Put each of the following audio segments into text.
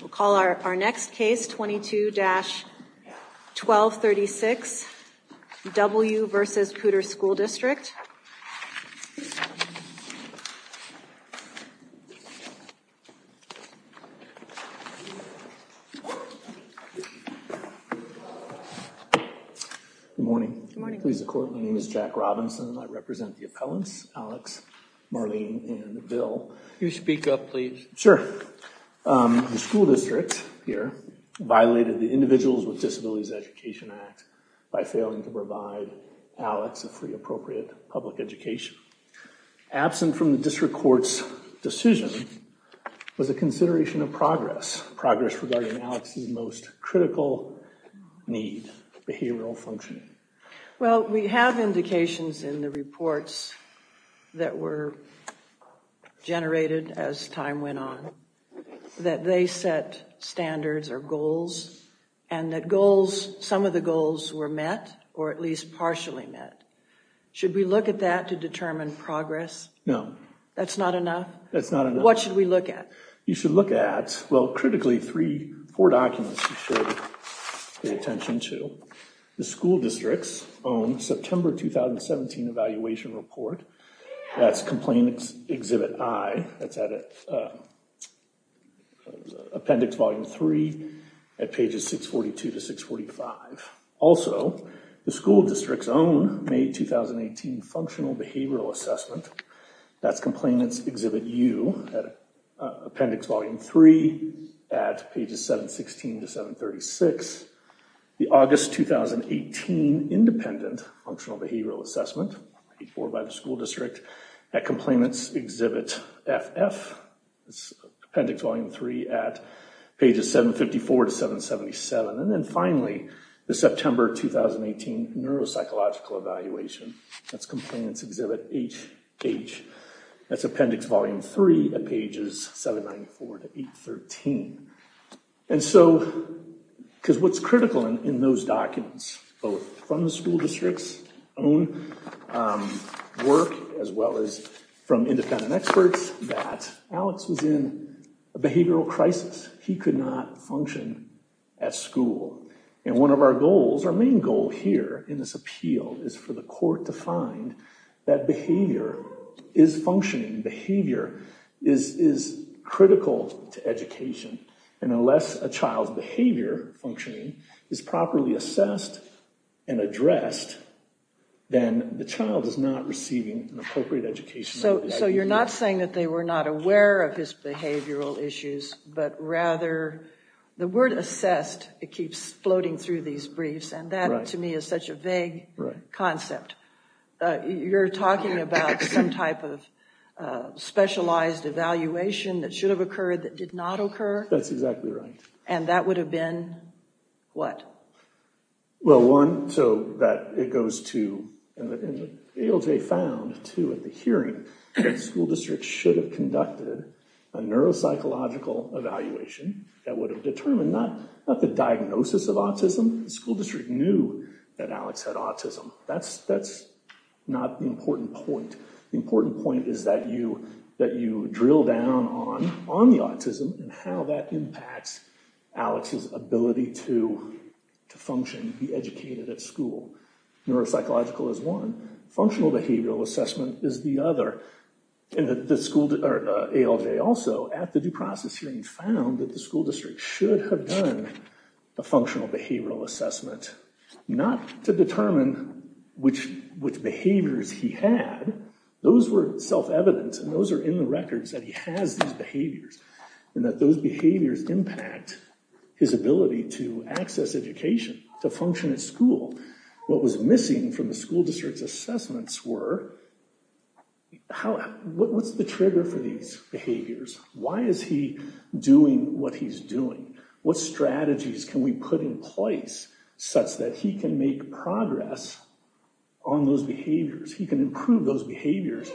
We'll call our next case, 22-1236, W. v. Poudre School District. Good morning. My name is Jack Robinson. I represent the appellants, Alex, Marlene, and Bill. You speak up, please. Sure. The school district here violated the Individuals with Disabilities Education Act by failing to provide Alex a free, appropriate public education. Absent from the district court's decision was a consideration of progress, progress regarding Alex's most critical need, behavioral functioning. Well, we have indications in the reports that were generated as time went on that they set standards or goals and that goals, some of the goals were met or at least partially met. Should we look at that to determine progress? No. That's not enough? That's not enough. What should we look at? You should look at, well, critically, three, four documents you should pay attention to. The school district's own September 2017 evaluation report. That's Complainants Exhibit I. That's at Appendix Volume 3 at pages 642 to 645. Also, the school district's own May 2018 Functional Behavioral Assessment. That's Complainants Exhibit U at Appendix Volume 3 at pages 716 to 736. The August 2018 Independent Functional Behavioral Assessment, before by the school district at Complainants Exhibit FF. That's Appendix Volume 3 at pages 754 to 777. And then finally, the September 2018 Neuropsychological Evaluation. That's Complainants Exhibit HH. That's Appendix Volume 3 at pages 794 to 813. And so, because what's critical in those documents, both from the school district's own work as well as from independent experts, that Alex was in a behavioral crisis. He could not function at school. And one of our goals, our main goal here in this appeal, is for the court to find that behavior is functioning. And behavior is critical to education. And unless a child's behavior functioning is properly assessed and addressed, then the child is not receiving an appropriate education. So you're not saying that they were not aware of his behavioral issues, but rather the word assessed, it keeps floating through these briefs. And that, to me, is such a vague concept. You're talking about some type of specialized evaluation that should have occurred that did not occur? That's exactly right. And that would have been what? Well, one, so that it goes to, and ALJ found, too, at the hearing, that school districts should have conducted a neuropsychological evaluation that would have determined not the diagnosis of autism. The school district knew that Alex had autism. That's not the important point. The important point is that you drill down on the autism and how that impacts Alex's ability to function, be educated at school. Neuropsychological is one. Functional behavioral assessment is the other. And ALJ also, at the due process hearing, found that the school district should have done a functional behavioral assessment not to determine which behaviors he had. Those were self-evident, and those are in the records, that he has these behaviors, and that those behaviors impact his ability to access education, to function at school. What was missing from the school district's assessments were, what's the trigger for these behaviors? Why is he doing what he's doing? What strategies can we put in place such that he can make progress on those behaviors? He can improve those behaviors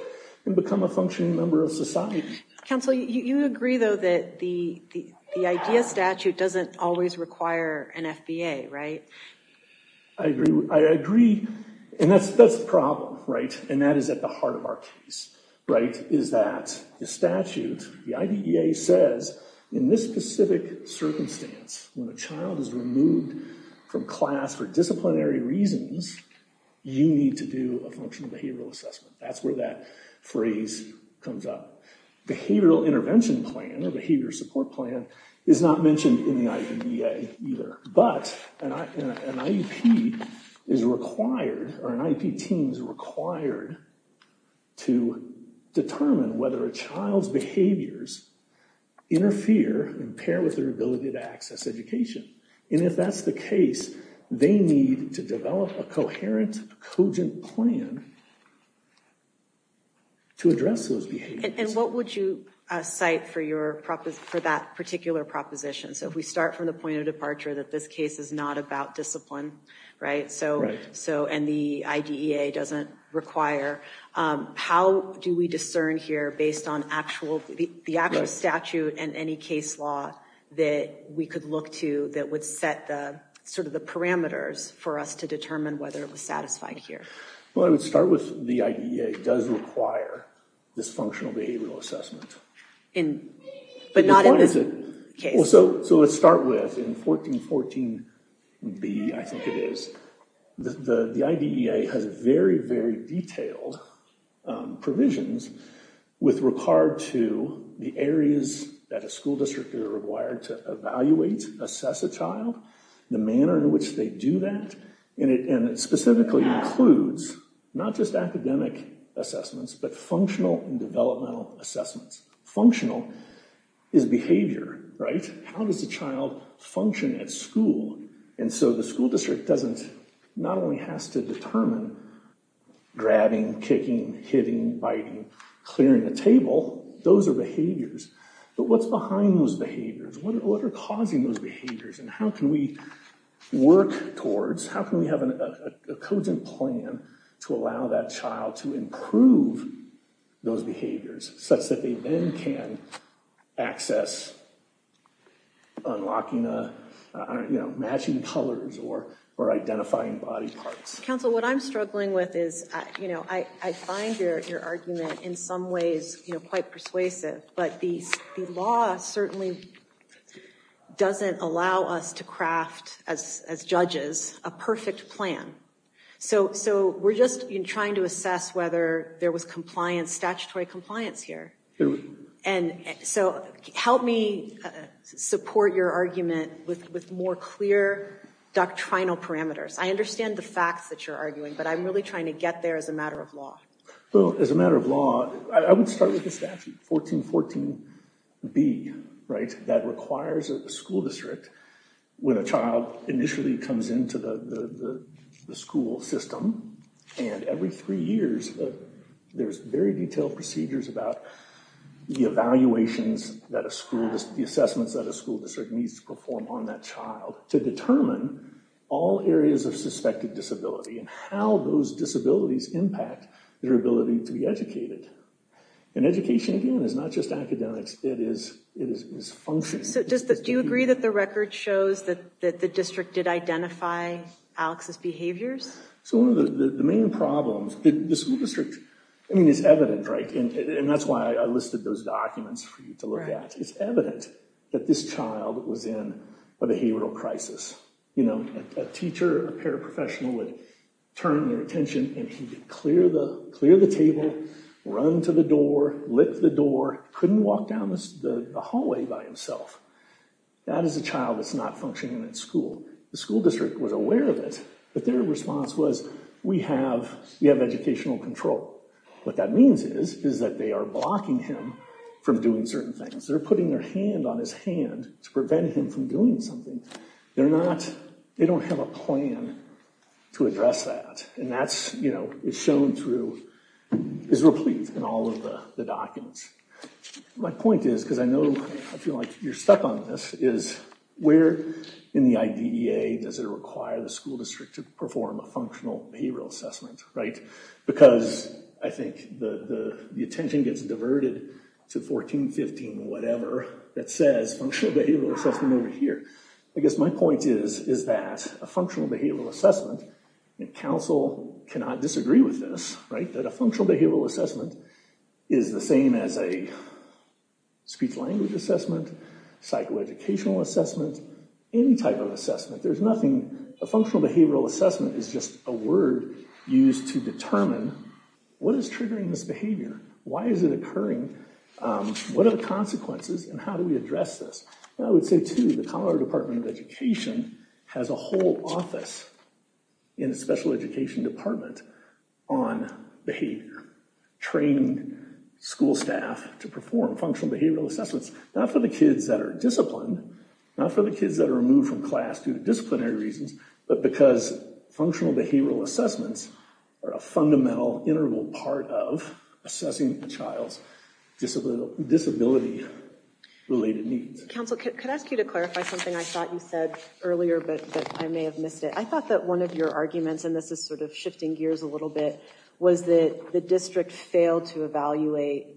and become a functioning member of society. Counsel, you agree, though, that the IDEA statute doesn't always require an FBA, right? I agree. And that's the problem, right? And that is at the heart of our case, right, is that the statute, the IDEA says, in this specific circumstance, when a child is removed from class for disciplinary reasons, you need to do a functional behavioral assessment. That's where that phrase comes up. Behavioral intervention plan or behavior support plan is not mentioned in the IDEA either. But an IEP is required, or an IEP team is required, to determine whether a child's behaviors interfere and pair with their ability to access education. And if that's the case, they need to develop a coherent, cogent plan to address those behaviors. And what would you cite for that particular proposition? So if we start from the point of departure that this case is not about discipline, and the IDEA doesn't require, how do we discern here based on the actual statute and any case law that we could look to that would set sort of the parameters for us to determine whether it was satisfied here? Well, I would start with the IDEA does require this functional behavioral assessment. But not in this case. So let's start with in 1414B, I think it is, the IDEA has very, very detailed provisions with regard to the areas that a school district is required to evaluate, assess a child, the manner in which they do that. And it specifically includes not just academic assessments, but functional and developmental assessments. Functional is behavior, right? How does the child function at school? And so the school district doesn't, not only has to determine grabbing, kicking, hitting, biting, clearing the table, those are behaviors. But what's behind those behaviors? What are causing those behaviors? And how can we work towards, how can we have a cogent plan to allow that child to improve those behaviors such that they then can access unlocking, matching colors or identifying body parts? Council, what I'm struggling with is, I find your argument in some ways quite persuasive. But the law certainly doesn't allow us to craft, as judges, a perfect plan. So we're just trying to assess whether there was compliance, statutory compliance here. And so help me support your argument with more clear doctrinal parameters. I understand the facts that you're arguing, but I'm really trying to get there as a matter of law. Well, as a matter of law, I would start with the statute, 1414B, right, that requires a school district when a child initially comes into the school system. And every three years, there's very detailed procedures about the evaluations that a school, the assessments that a school district needs to perform on that child to determine all areas of suspected disability and how those disabilities impact their ability to be educated. And education, again, is not just academics. It is functioning. So do you agree that the record shows that the district did identify Alex's behaviors? So one of the main problems, the school district, I mean, it's evident, right, and that's why I listed those documents for you to look at. It's evident that this child was in a behavioral crisis. You know, a teacher, a paraprofessional, would turn their attention and he'd clear the table, run to the door, lift the door, couldn't walk down the hallway by himself. That is a child that's not functioning in school. The school district was aware of it, but their response was, we have educational control. What that means is is that they are blocking him from doing certain things. They're putting their hand on his hand to prevent him from doing something. They're not, they don't have a plan to address that, and that's, you know, it's shown through, is replete in all of the documents. My point is, because I know I feel like you're stuck on this, is where in the IDEA does it require the school district to perform a functional behavioral assessment, right? Because I think the attention gets diverted to 14, 15, whatever, that says functional behavioral assessment over here. I guess my point is, is that a functional behavioral assessment, and council cannot disagree with this, right, that a functional behavioral assessment is the same as a speech-language assessment, psychoeducational assessment, any type of assessment. There's nothing, a functional behavioral assessment is just a word used to determine what is triggering this behavior, why is it occurring, what are the consequences, and how do we address this? I would say, too, the Colorado Department of Education has a whole office in the special education department on behavior, training school staff to perform functional behavioral assessments, not for the kids that are disciplined, not for the kids that are removed from class due to disciplinary reasons, but because functional behavioral assessments are a fundamental, integral part of assessing the child's disability-related needs. Council, could I ask you to clarify something I thought you said earlier, but I may have missed it. I thought that one of your arguments, and this is sort of shifting gears a little bit, was that the district failed to evaluate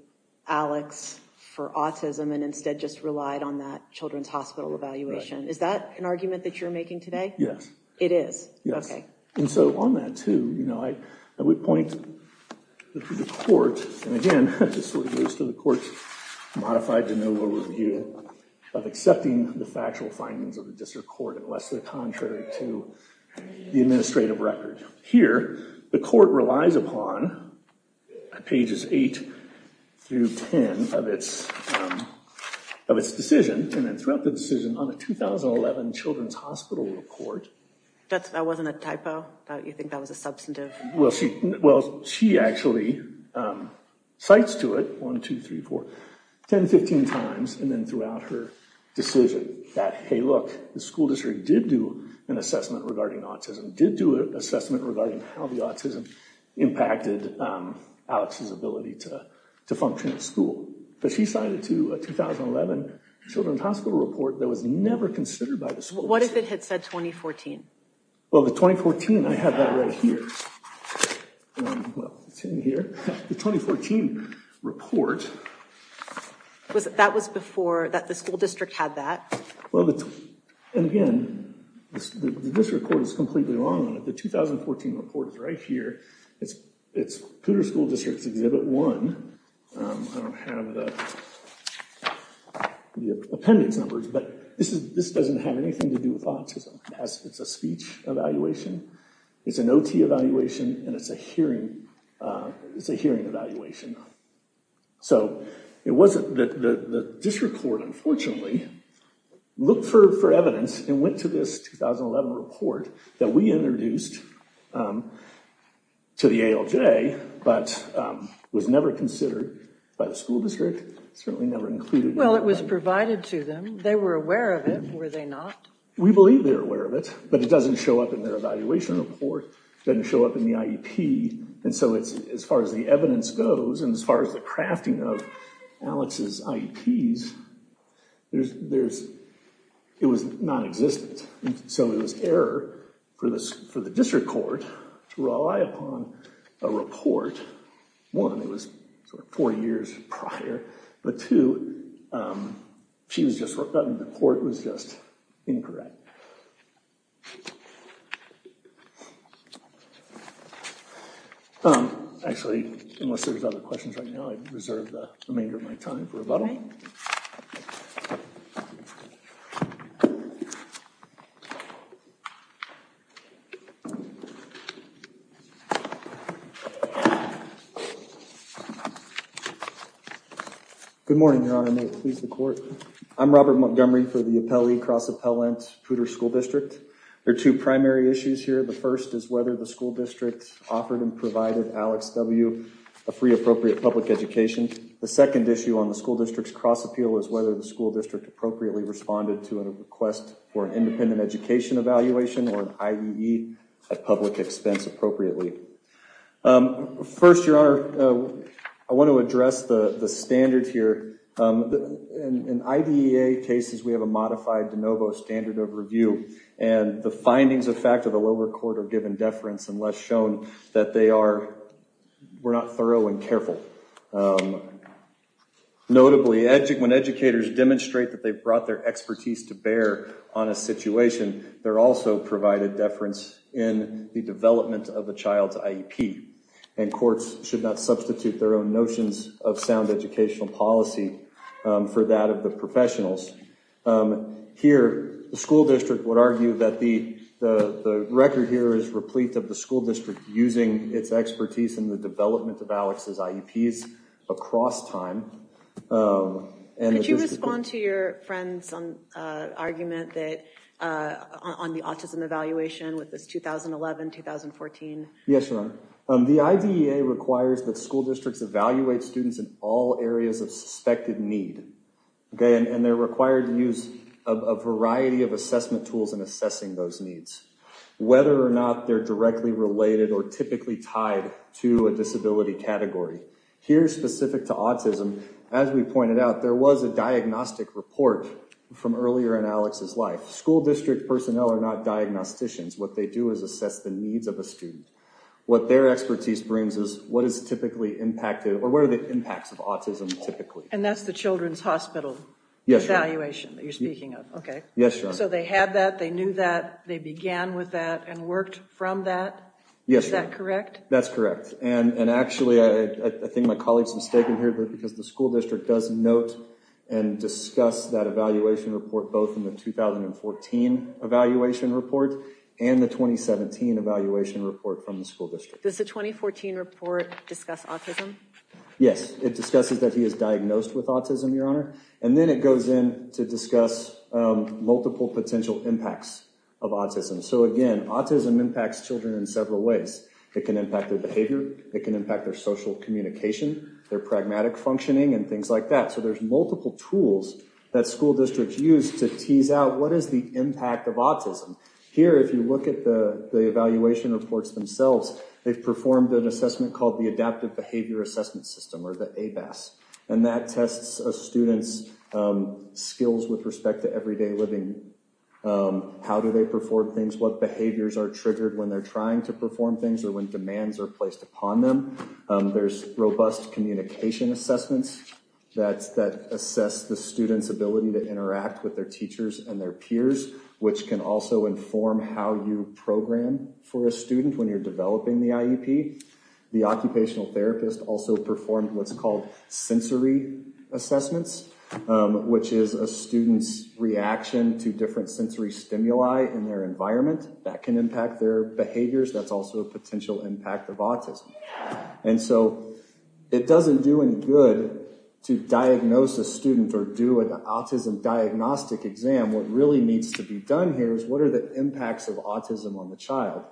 Alex for autism and instead just relied on that children's hospital evaluation. Is that an argument that you're making today? Yes. It is? Yes. Okay. And so on that, too, I would point the court, and again, this sort of goes to the court's modified de novo review of accepting the factual findings of the district court unless they're contrary to the administrative record. Here, the court relies upon pages 8 through 10 of its decision, and then throughout the decision, on a 2011 children's hospital report... That wasn't a typo? You think that was a substantive... Well, she actually cites to it, one, two, three, four, 10, 15 times, and then throughout her decision that, hey, look, the school district did do an assessment regarding autism, did do an assessment regarding how the autism impacted Alex's ability to function at school. But she cited to a 2011 children's hospital report that was never considered by the school district. What if it had said 2014? Well, the 2014, I have that right here. Well, it's in here. The 2014 report... That was before the school district had that? Well, and again, this report is completely wrong. The 2014 report is right here. It's Poudre School District's Exhibit 1. I don't have the appendix numbers, but this doesn't have anything to do with autism. It's a speech evaluation. It's an OT evaluation, and it's a hearing evaluation. So it wasn't... The district court, unfortunately, looked for evidence and went to this 2011 report that we introduced to the ALJ, but was never considered by the school district, certainly never included... Well, it was provided to them. They were aware of it, were they not? We believe they were aware of it, but it doesn't show up in their evaluation report. It doesn't show up in the IEP. And so as far as the evidence goes and as far as the crafting of Alex's IEPs, it was nonexistent. So it was error for the district court to rely upon a report. One, it was four years prior. But two, the court was just incorrect. Actually, unless there's other questions right now, I reserve the remainder of my time for rebuttal. Good morning, Your Honor. May it please the court. I'm Robert Montgomery for the appellee cross-appellant Poudre School District. There are two primary issues here. The first is whether the school district offered and provided Alex W. a free appropriate public education. The second issue on the school district's cross-appeal is whether the school district appropriately responded or an IEE at public expense appropriately. First, Your Honor, I want to address the standard here. In IDEA cases, we have a modified de novo standard of review. And the findings of fact of the lower court are given deference unless shown that they were not thorough and careful. Notably, when educators demonstrate that they've brought their expertise to bear on a situation, they're also provided deference in the development of a child's IEP. And courts should not substitute their own notions of sound educational policy for that of the professionals. Here, the school district would argue that the record here is replete of the school district using its expertise in the development of Alex's IEPs across time. Could you respond to your friend's argument on the autism evaluation with this 2011-2014? Yes, Your Honor. The IDEA requires that school districts evaluate students in all areas of suspected need. And they're required to use a variety of assessment tools in assessing those needs, whether or not they're directly related or typically tied to a disability category. Here, specific to autism, as we pointed out, there was a diagnostic report from earlier in Alex's life. School district personnel are not diagnosticians. What they do is assess the needs of a student. What their expertise brings is what is typically impacted, or what are the impacts of autism typically. And that's the children's hospital evaluation that you're speaking of, okay. Yes, Your Honor. So they had that, they knew that, they began with that and worked from that? Yes, Your Honor. Is that correct? That's correct. And actually, I think my colleague's mistaken here because the school district does note and discuss that evaluation report both in the 2014 evaluation report and the 2017 evaluation report from the school district. Does the 2014 report discuss autism? Yes, it discusses that he is diagnosed with autism, Your Honor. And then it goes in to discuss multiple potential impacts of autism. So again, autism impacts children in several ways. It can impact their behavior, it can impact their social communication, their pragmatic functioning, and things like that. So there's multiple tools that school districts use to tease out what is the impact of autism. Here, if you look at the evaluation reports themselves, they've performed an assessment called the Adaptive Behavior Assessment System, or the ABAS. And that tests a student's skills with respect to everyday living. How do they perform things? What behaviors are triggered when they're trying to perform things or when demands are placed upon them? There's robust communication assessments that assess the student's ability to interact with their teachers and their peers, which can also inform how you program for a student when you're developing the IEP. The occupational therapist also performed what's called sensory assessments, which is a student's reaction to different sensory stimuli in their environment. That can impact their behaviors. That's also a potential impact of autism. And so it doesn't do any good to diagnose a student or do an autism diagnostic exam. What really needs to be done here is what are the impacts of autism on the child?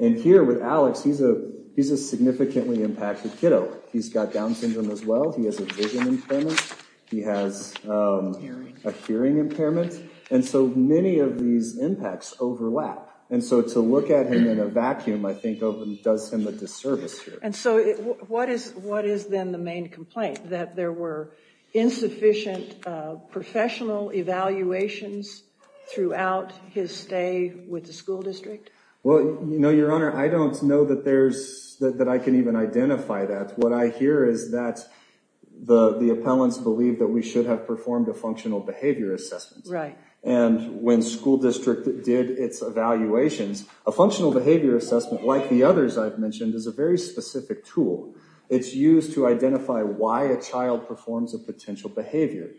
And here with Alex, he's a significantly impacted kiddo. He's got Down syndrome as well. He has a vision impairment. He has a hearing impairment. And so many of these impacts overlap. And so to look at him in a vacuum, I think does him a disservice here. And so what is then the main complaint? That there were insufficient professional evaluations throughout his stay with the school district? Well, no, Your Honor, I don't know that there's... that I can even identify that. What I hear is that the appellants believe that we should have performed a functional behavior assessment. Right. And when school district did its evaluations, a functional behavior assessment, like the others I've mentioned, is a very specific tool. It's used to identify why a child performs a potential behavior.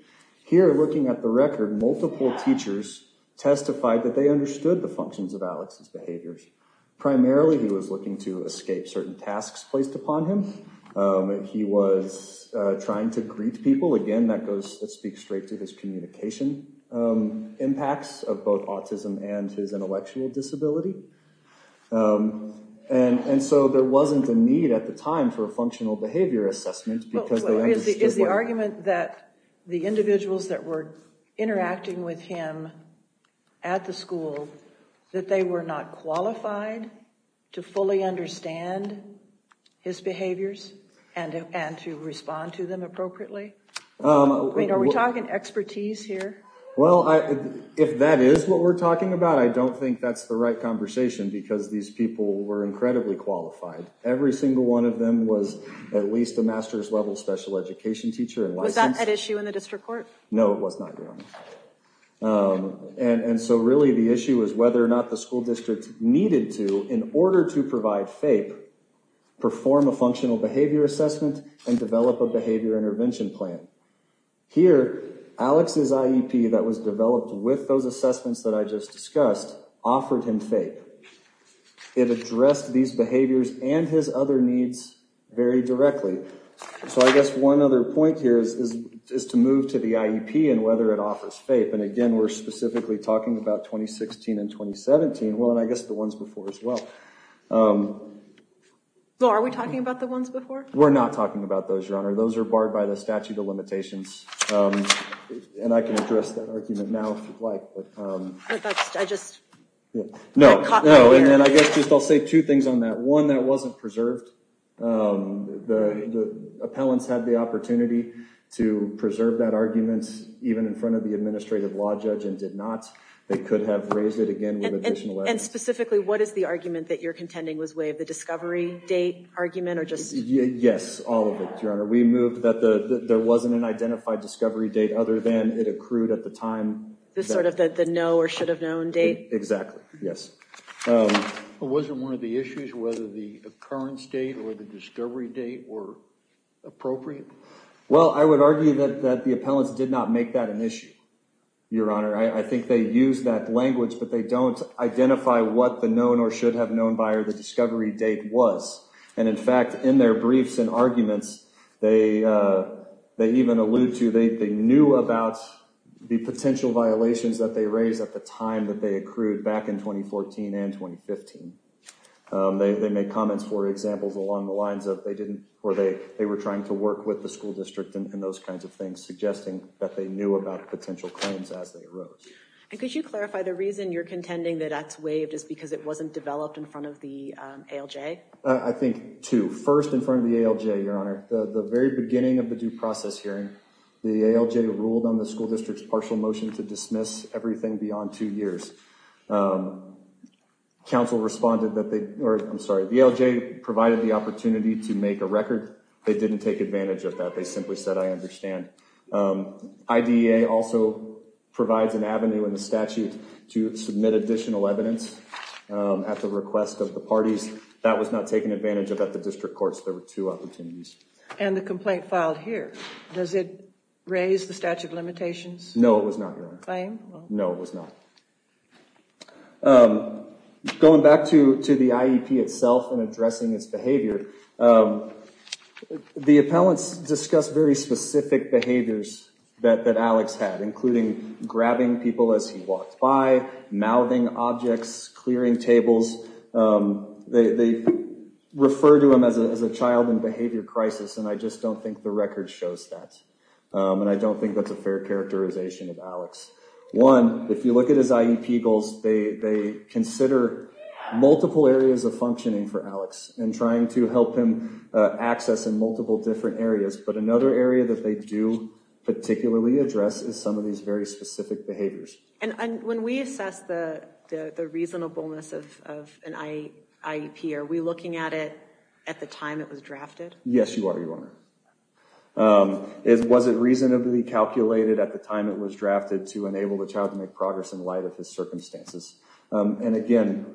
Here, looking at the record, multiple teachers testified that they understood the functions of Alex's behaviors. Primarily, he was looking to escape certain tasks placed upon him. He was trying to greet people. Again, that goes... that speaks straight to his communication impacts of both autism and his intellectual disability. And so there wasn't a need at the time for a functional behavior assessment because they understood... Is the argument that the individuals that were interacting with him at the school, that they were not qualified to fully understand his behaviors and to respond to them appropriately? I mean, are we talking expertise here? Well, if that is what we're talking about, I don't think that's the right conversation because these people were incredibly qualified. Every single one of them was at least a master's level special education teacher and licensed... Was that an issue in the district court? No, it was not, Your Honor. And so really the issue was whether or not the school district needed to, in order to provide FAPE, perform a functional behavior assessment and develop a behavior intervention plan. Here, Alex's IEP that was developed with those assessments that I just discussed offered him FAPE. It addressed these behaviors and his other needs very directly. So I guess one other point here is to move to the IEP and whether it offers FAPE. And again, we're specifically talking about 2016 and 2017. Well, and I guess the ones before as well. So are we talking about the ones before? We're not talking about those, Your Honor. Those are barred by the statute of limitations. And I can address that argument now if you'd like. But that's, I just... No, no. And I guess just I'll say two things on that. One, that wasn't preserved. The appellants had the opportunity to preserve that argument even in front of the administrative law judge and did not. They could have raised it again with additional evidence. And specifically, what is the argument that you're contending was way of the discovery date argument or just... Yes, all of it, Your Honor. We moved that there wasn't an identified discovery date other than it accrued at the time. Sort of the no or should have known date? Exactly, yes. Wasn't one of the issues whether the occurrence date or the discovery date were appropriate? Well, I would argue that the appellants did not make that an issue, Your Honor. I think they used that language, but they don't identify what the known or should have known by or the discovery date was. And in fact, in their briefs and arguments, they even allude to they knew about the potential violations that they raised at the time that they accrued back in 2014 and 2015. They made comments for examples along the lines of they didn't... Or they were trying to work with the school district and those kinds of things suggesting that they knew about potential claims as they arose. And could you clarify the reason you're contending that that's waived is because it wasn't developed in front of the ALJ? I think two. First, in front of the ALJ, Your Honor, the very beginning of the due process hearing, the ALJ ruled on the school district's partial motion to dismiss everything beyond two years. Council responded that they... Or, I'm sorry. The ALJ provided the opportunity to make a record. They didn't take advantage of that. They simply said, I understand. IDEA also provides an avenue in the statute to submit additional evidence at the request of the parties. That was not taken advantage of at the district courts. There were two opportunities. And the complaint filed here, does it raise the statute of limitations? No, it was not, Your Honor. Claim? No, it was not. Going back to the IEP itself and addressing its behavior, the appellants discussed very specific behaviors that Alex had, including grabbing people as he walked by, mouthing objects, clearing tables. They refer to him as a child in behavior crisis, and I just don't think the record shows that. And I don't think that's a fair characterization of Alex. One, if you look at his IEP goals, they consider multiple areas of functioning for Alex and trying to help him access in multiple different areas. But another area that they do particularly address is some of these very specific behaviors. When we assess the reasonableness of an IEP, are we looking at it at the time it was drafted? Yes, you are, Your Honor. Was it reasonably calculated at the time it was drafted to enable the child to make progress in light of his circumstances? And again,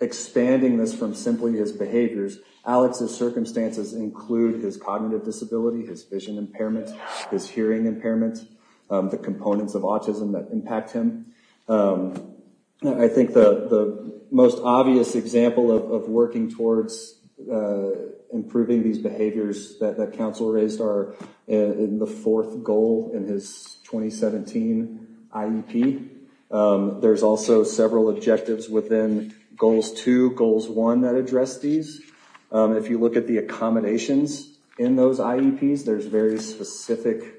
expanding this from simply his behaviors, Alex's circumstances include his cognitive disability, his vision impairment, his hearing impairment, the components of autism that impact him. I think the most obvious example of working towards improving these behaviors that counsel raised are in the fourth goal in his 2017 IEP. There's also several objectives within goals two, goals one that address these. If you look at the accommodations in those IEPs, there's very specific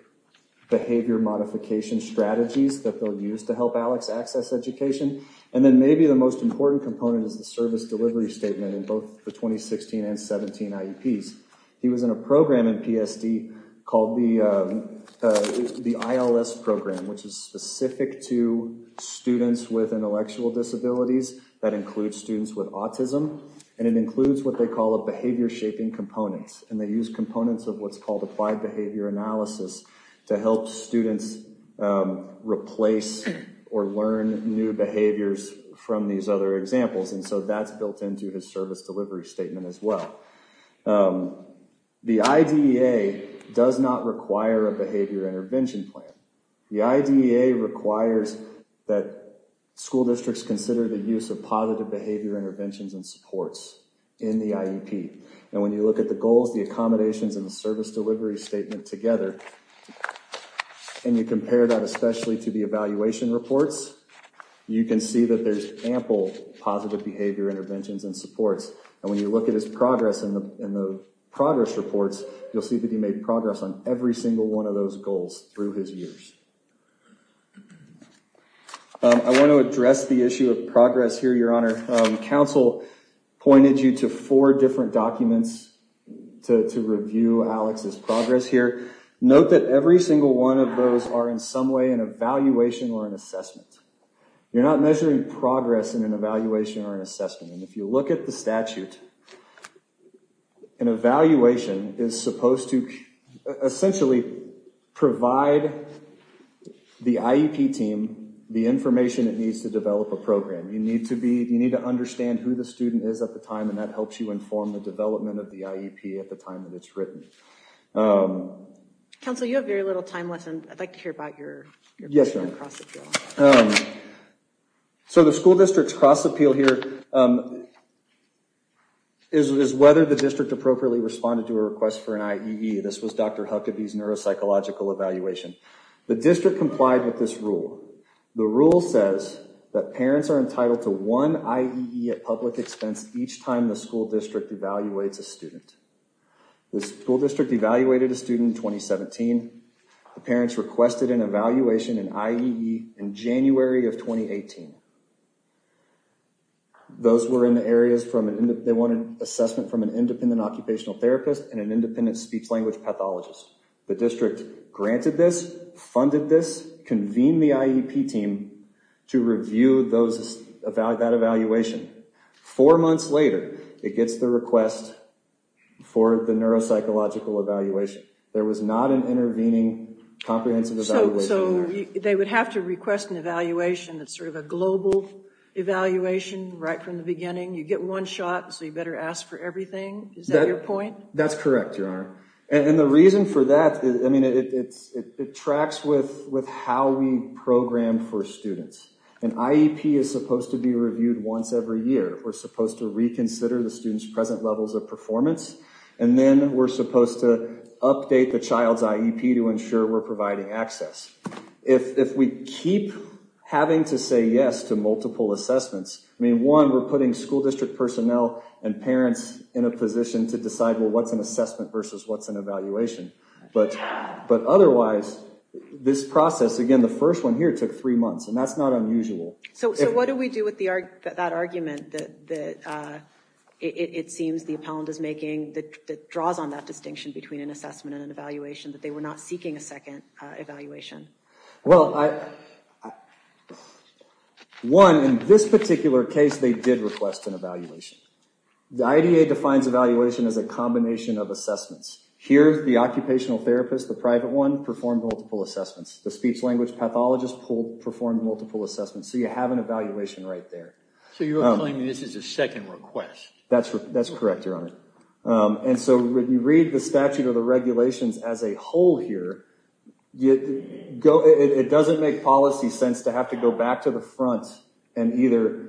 behavior modification strategies that they'll use to help Alex access education. And then maybe the most important component is the service delivery statement in both the 2016 and 17 IEPs. He was in a program in PSD called the ILS program, which is specific to students with intellectual disabilities that includes students with autism. And it includes what they call a behavior shaping component. And they use components of what's called applied behavior analysis to help students replace or learn new behaviors from these other examples. And so that's built into his service delivery statement as well. The IDEA does not require a behavior intervention plan. The IDEA requires that school districts consider the use of positive behavior interventions and supports in the IEP. And when you look at the goals, the accommodations, and the service delivery statement together, and you compare that especially to the evaluation reports, you can see that there's ample positive behavior interventions and supports. And when you look at his progress in the progress reports, you'll see that he made progress on every single one of those goals through his years. I want to address the issue of progress here, Your Honor. Council pointed you to four different documents to review Alex's progress here. Note that every single one of those are in some way an evaluation or an assessment. You're not measuring progress in an evaluation or an assessment. And if you look at the statute, an evaluation is supposed to essentially provide the IEP team the information it needs to develop a program. You need to understand who the student is at the time, and that helps you inform the development of the IEP at the time that it's written. Counselor, you have very little time left, and I'd like to hear about your cross-appeal. Yes, Your Honor. So the school district's cross-appeal here is whether the district appropriately responded to a request for an IEE. This was Dr. Huckabee's neuropsychological evaluation. The district complied The rule says that parents are entitled to one IEE at public expense each time the school district evaluates a student. The school district evaluated a student in 2017. The parents requested an evaluation in IEE in January of 2018. Those were in the areas they wanted assessment from an independent occupational therapist and an independent speech-language pathologist. The district granted this, funded this, convened the IEP team to review that evaluation. Four months later, it gets the request for the neuropsychological evaluation. There was not an intervening comprehensive evaluation. So they would have to request an evaluation that's sort of a global evaluation right from the beginning. You get one shot, so you better ask for everything. Is that your point? That's correct, Your Honor. And the reason for that, I mean, it tracks with how we program for students. An IEP is supposed to be reviewed once every year. We're supposed to reconsider the student's present levels of performance. And then we're supposed to update the child's IEP to ensure we're providing access. If we keep having to say yes to multiple assessments, I mean, one, we're putting school district personnel and parents in a position to decide, well, what's an assessment versus what's an evaluation? But otherwise, this process, again, the first one here took three months, and that's not unusual. So what do we do with that argument that it seems the appellant is making that draws on that distinction between an assessment and an evaluation, that they were not seeking a second evaluation? Well, I... One, in this particular case, they did request an evaluation. The IDA defines evaluation as a combination of assessments. Here, the occupational therapist, the private one, performed multiple assessments. The speech-language pathologist performed multiple assessments. So you have an evaluation right there. So you're claiming this is a second request. That's correct, Your Honor. And so when you read the statute or the regulations as a whole here, it doesn't make policy sense to have to go back to the front and either...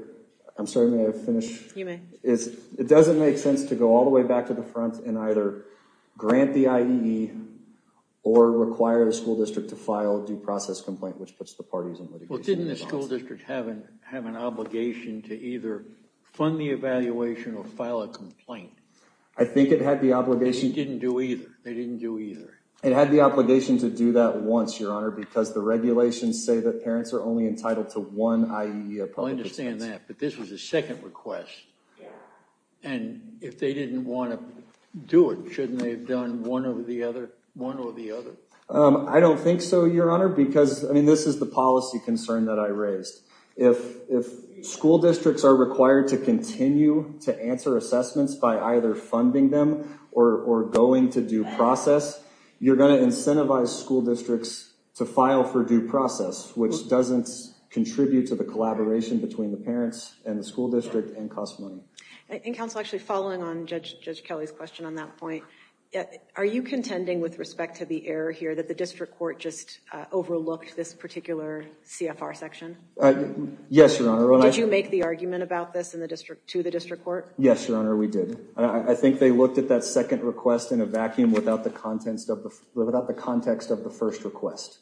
I'm sorry, may I finish? You may. It doesn't make sense to go all the way back to the front and either grant the IEE or require the school district to file a due process complaint, which puts the parties in litigation. Well, didn't the school district have an obligation to either fund the evaluation or file a complaint? I think it had the obligation... They didn't do either. They didn't do either. It had the obligation to do that once, Your Honor, because the regulations say that parents are only entitled to one IEE. I understand that, but this was a second request. And if they didn't want to do it, shouldn't they have done one or the other? I don't think so, Your Honor, because, I mean, this is the policy concern that I raised. If school districts are required to continue to answer assessments by either funding them or going to due process, you're going to incentivize school districts to file for due process, which doesn't contribute to the collaboration between the parents and the school district and cost money. And, Counsel, actually following on Judge Kelly's question on that point, are you contending with respect to the error here that the district court just overlooked this particular CFR section? Yes, Your Honor. Did you make the argument about this to the district court? Yes, Your Honor, we did. I think they looked at that second request in a vacuum without the context of the first request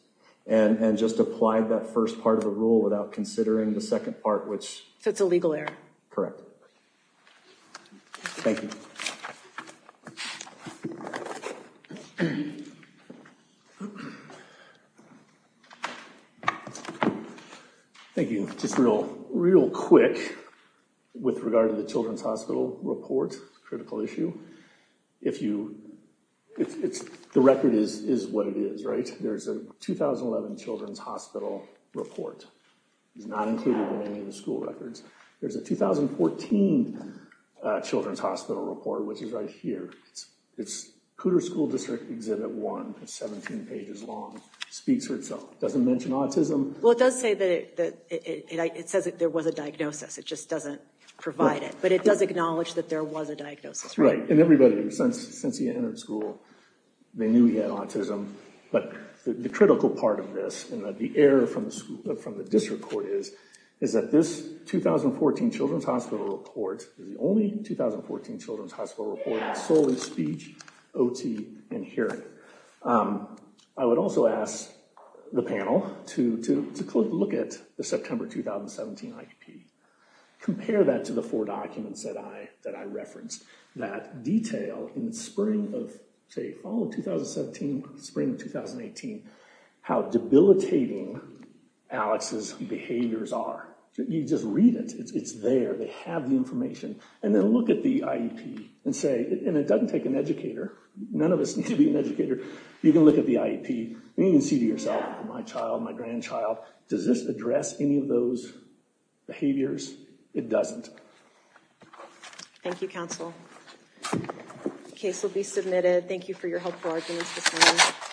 and just applied that first part of the rule without considering the second part, which... So it's a legal error. Correct. Thank you. Thank you. Just real quick with regard to the Children's Hospital report, critical issue. The record is what it is, right? There's a 2011 Children's Hospital report. It's not included in any of the school records. There's a 2014 Children's Hospital report, which is right here. It's Cooter School District Exhibit 1. It's 17 pages long. It speaks for itself. It doesn't mention autism. Well, it does say that it says that there was a diagnosis. It just doesn't provide it. But it does acknowledge that there was a diagnosis. Right. And everybody, since he entered school, they knew he had autism. But the critical part of this and the error from the district court is that this 2014 Children's Hospital report is the only 2014 Children's Hospital report solely speech, OT, and hearing. I would also ask the panel to look at the September 2017 IEP. Compare that to the four documents that I referenced. That detail in the spring of, say, fall of 2017, spring of 2018, how debilitating Alex's behaviors are. You just read it. It's there. They have the information. And then look at the IEP and say, and it doesn't take an educator. None of us need to be an educator. You can look at the IEP and you can see to yourself, my child, my grandchild, does this address any of those behaviors? It doesn't. Thank you, counsel. The case will be submitted. Thank you for your helpful arguments this morning.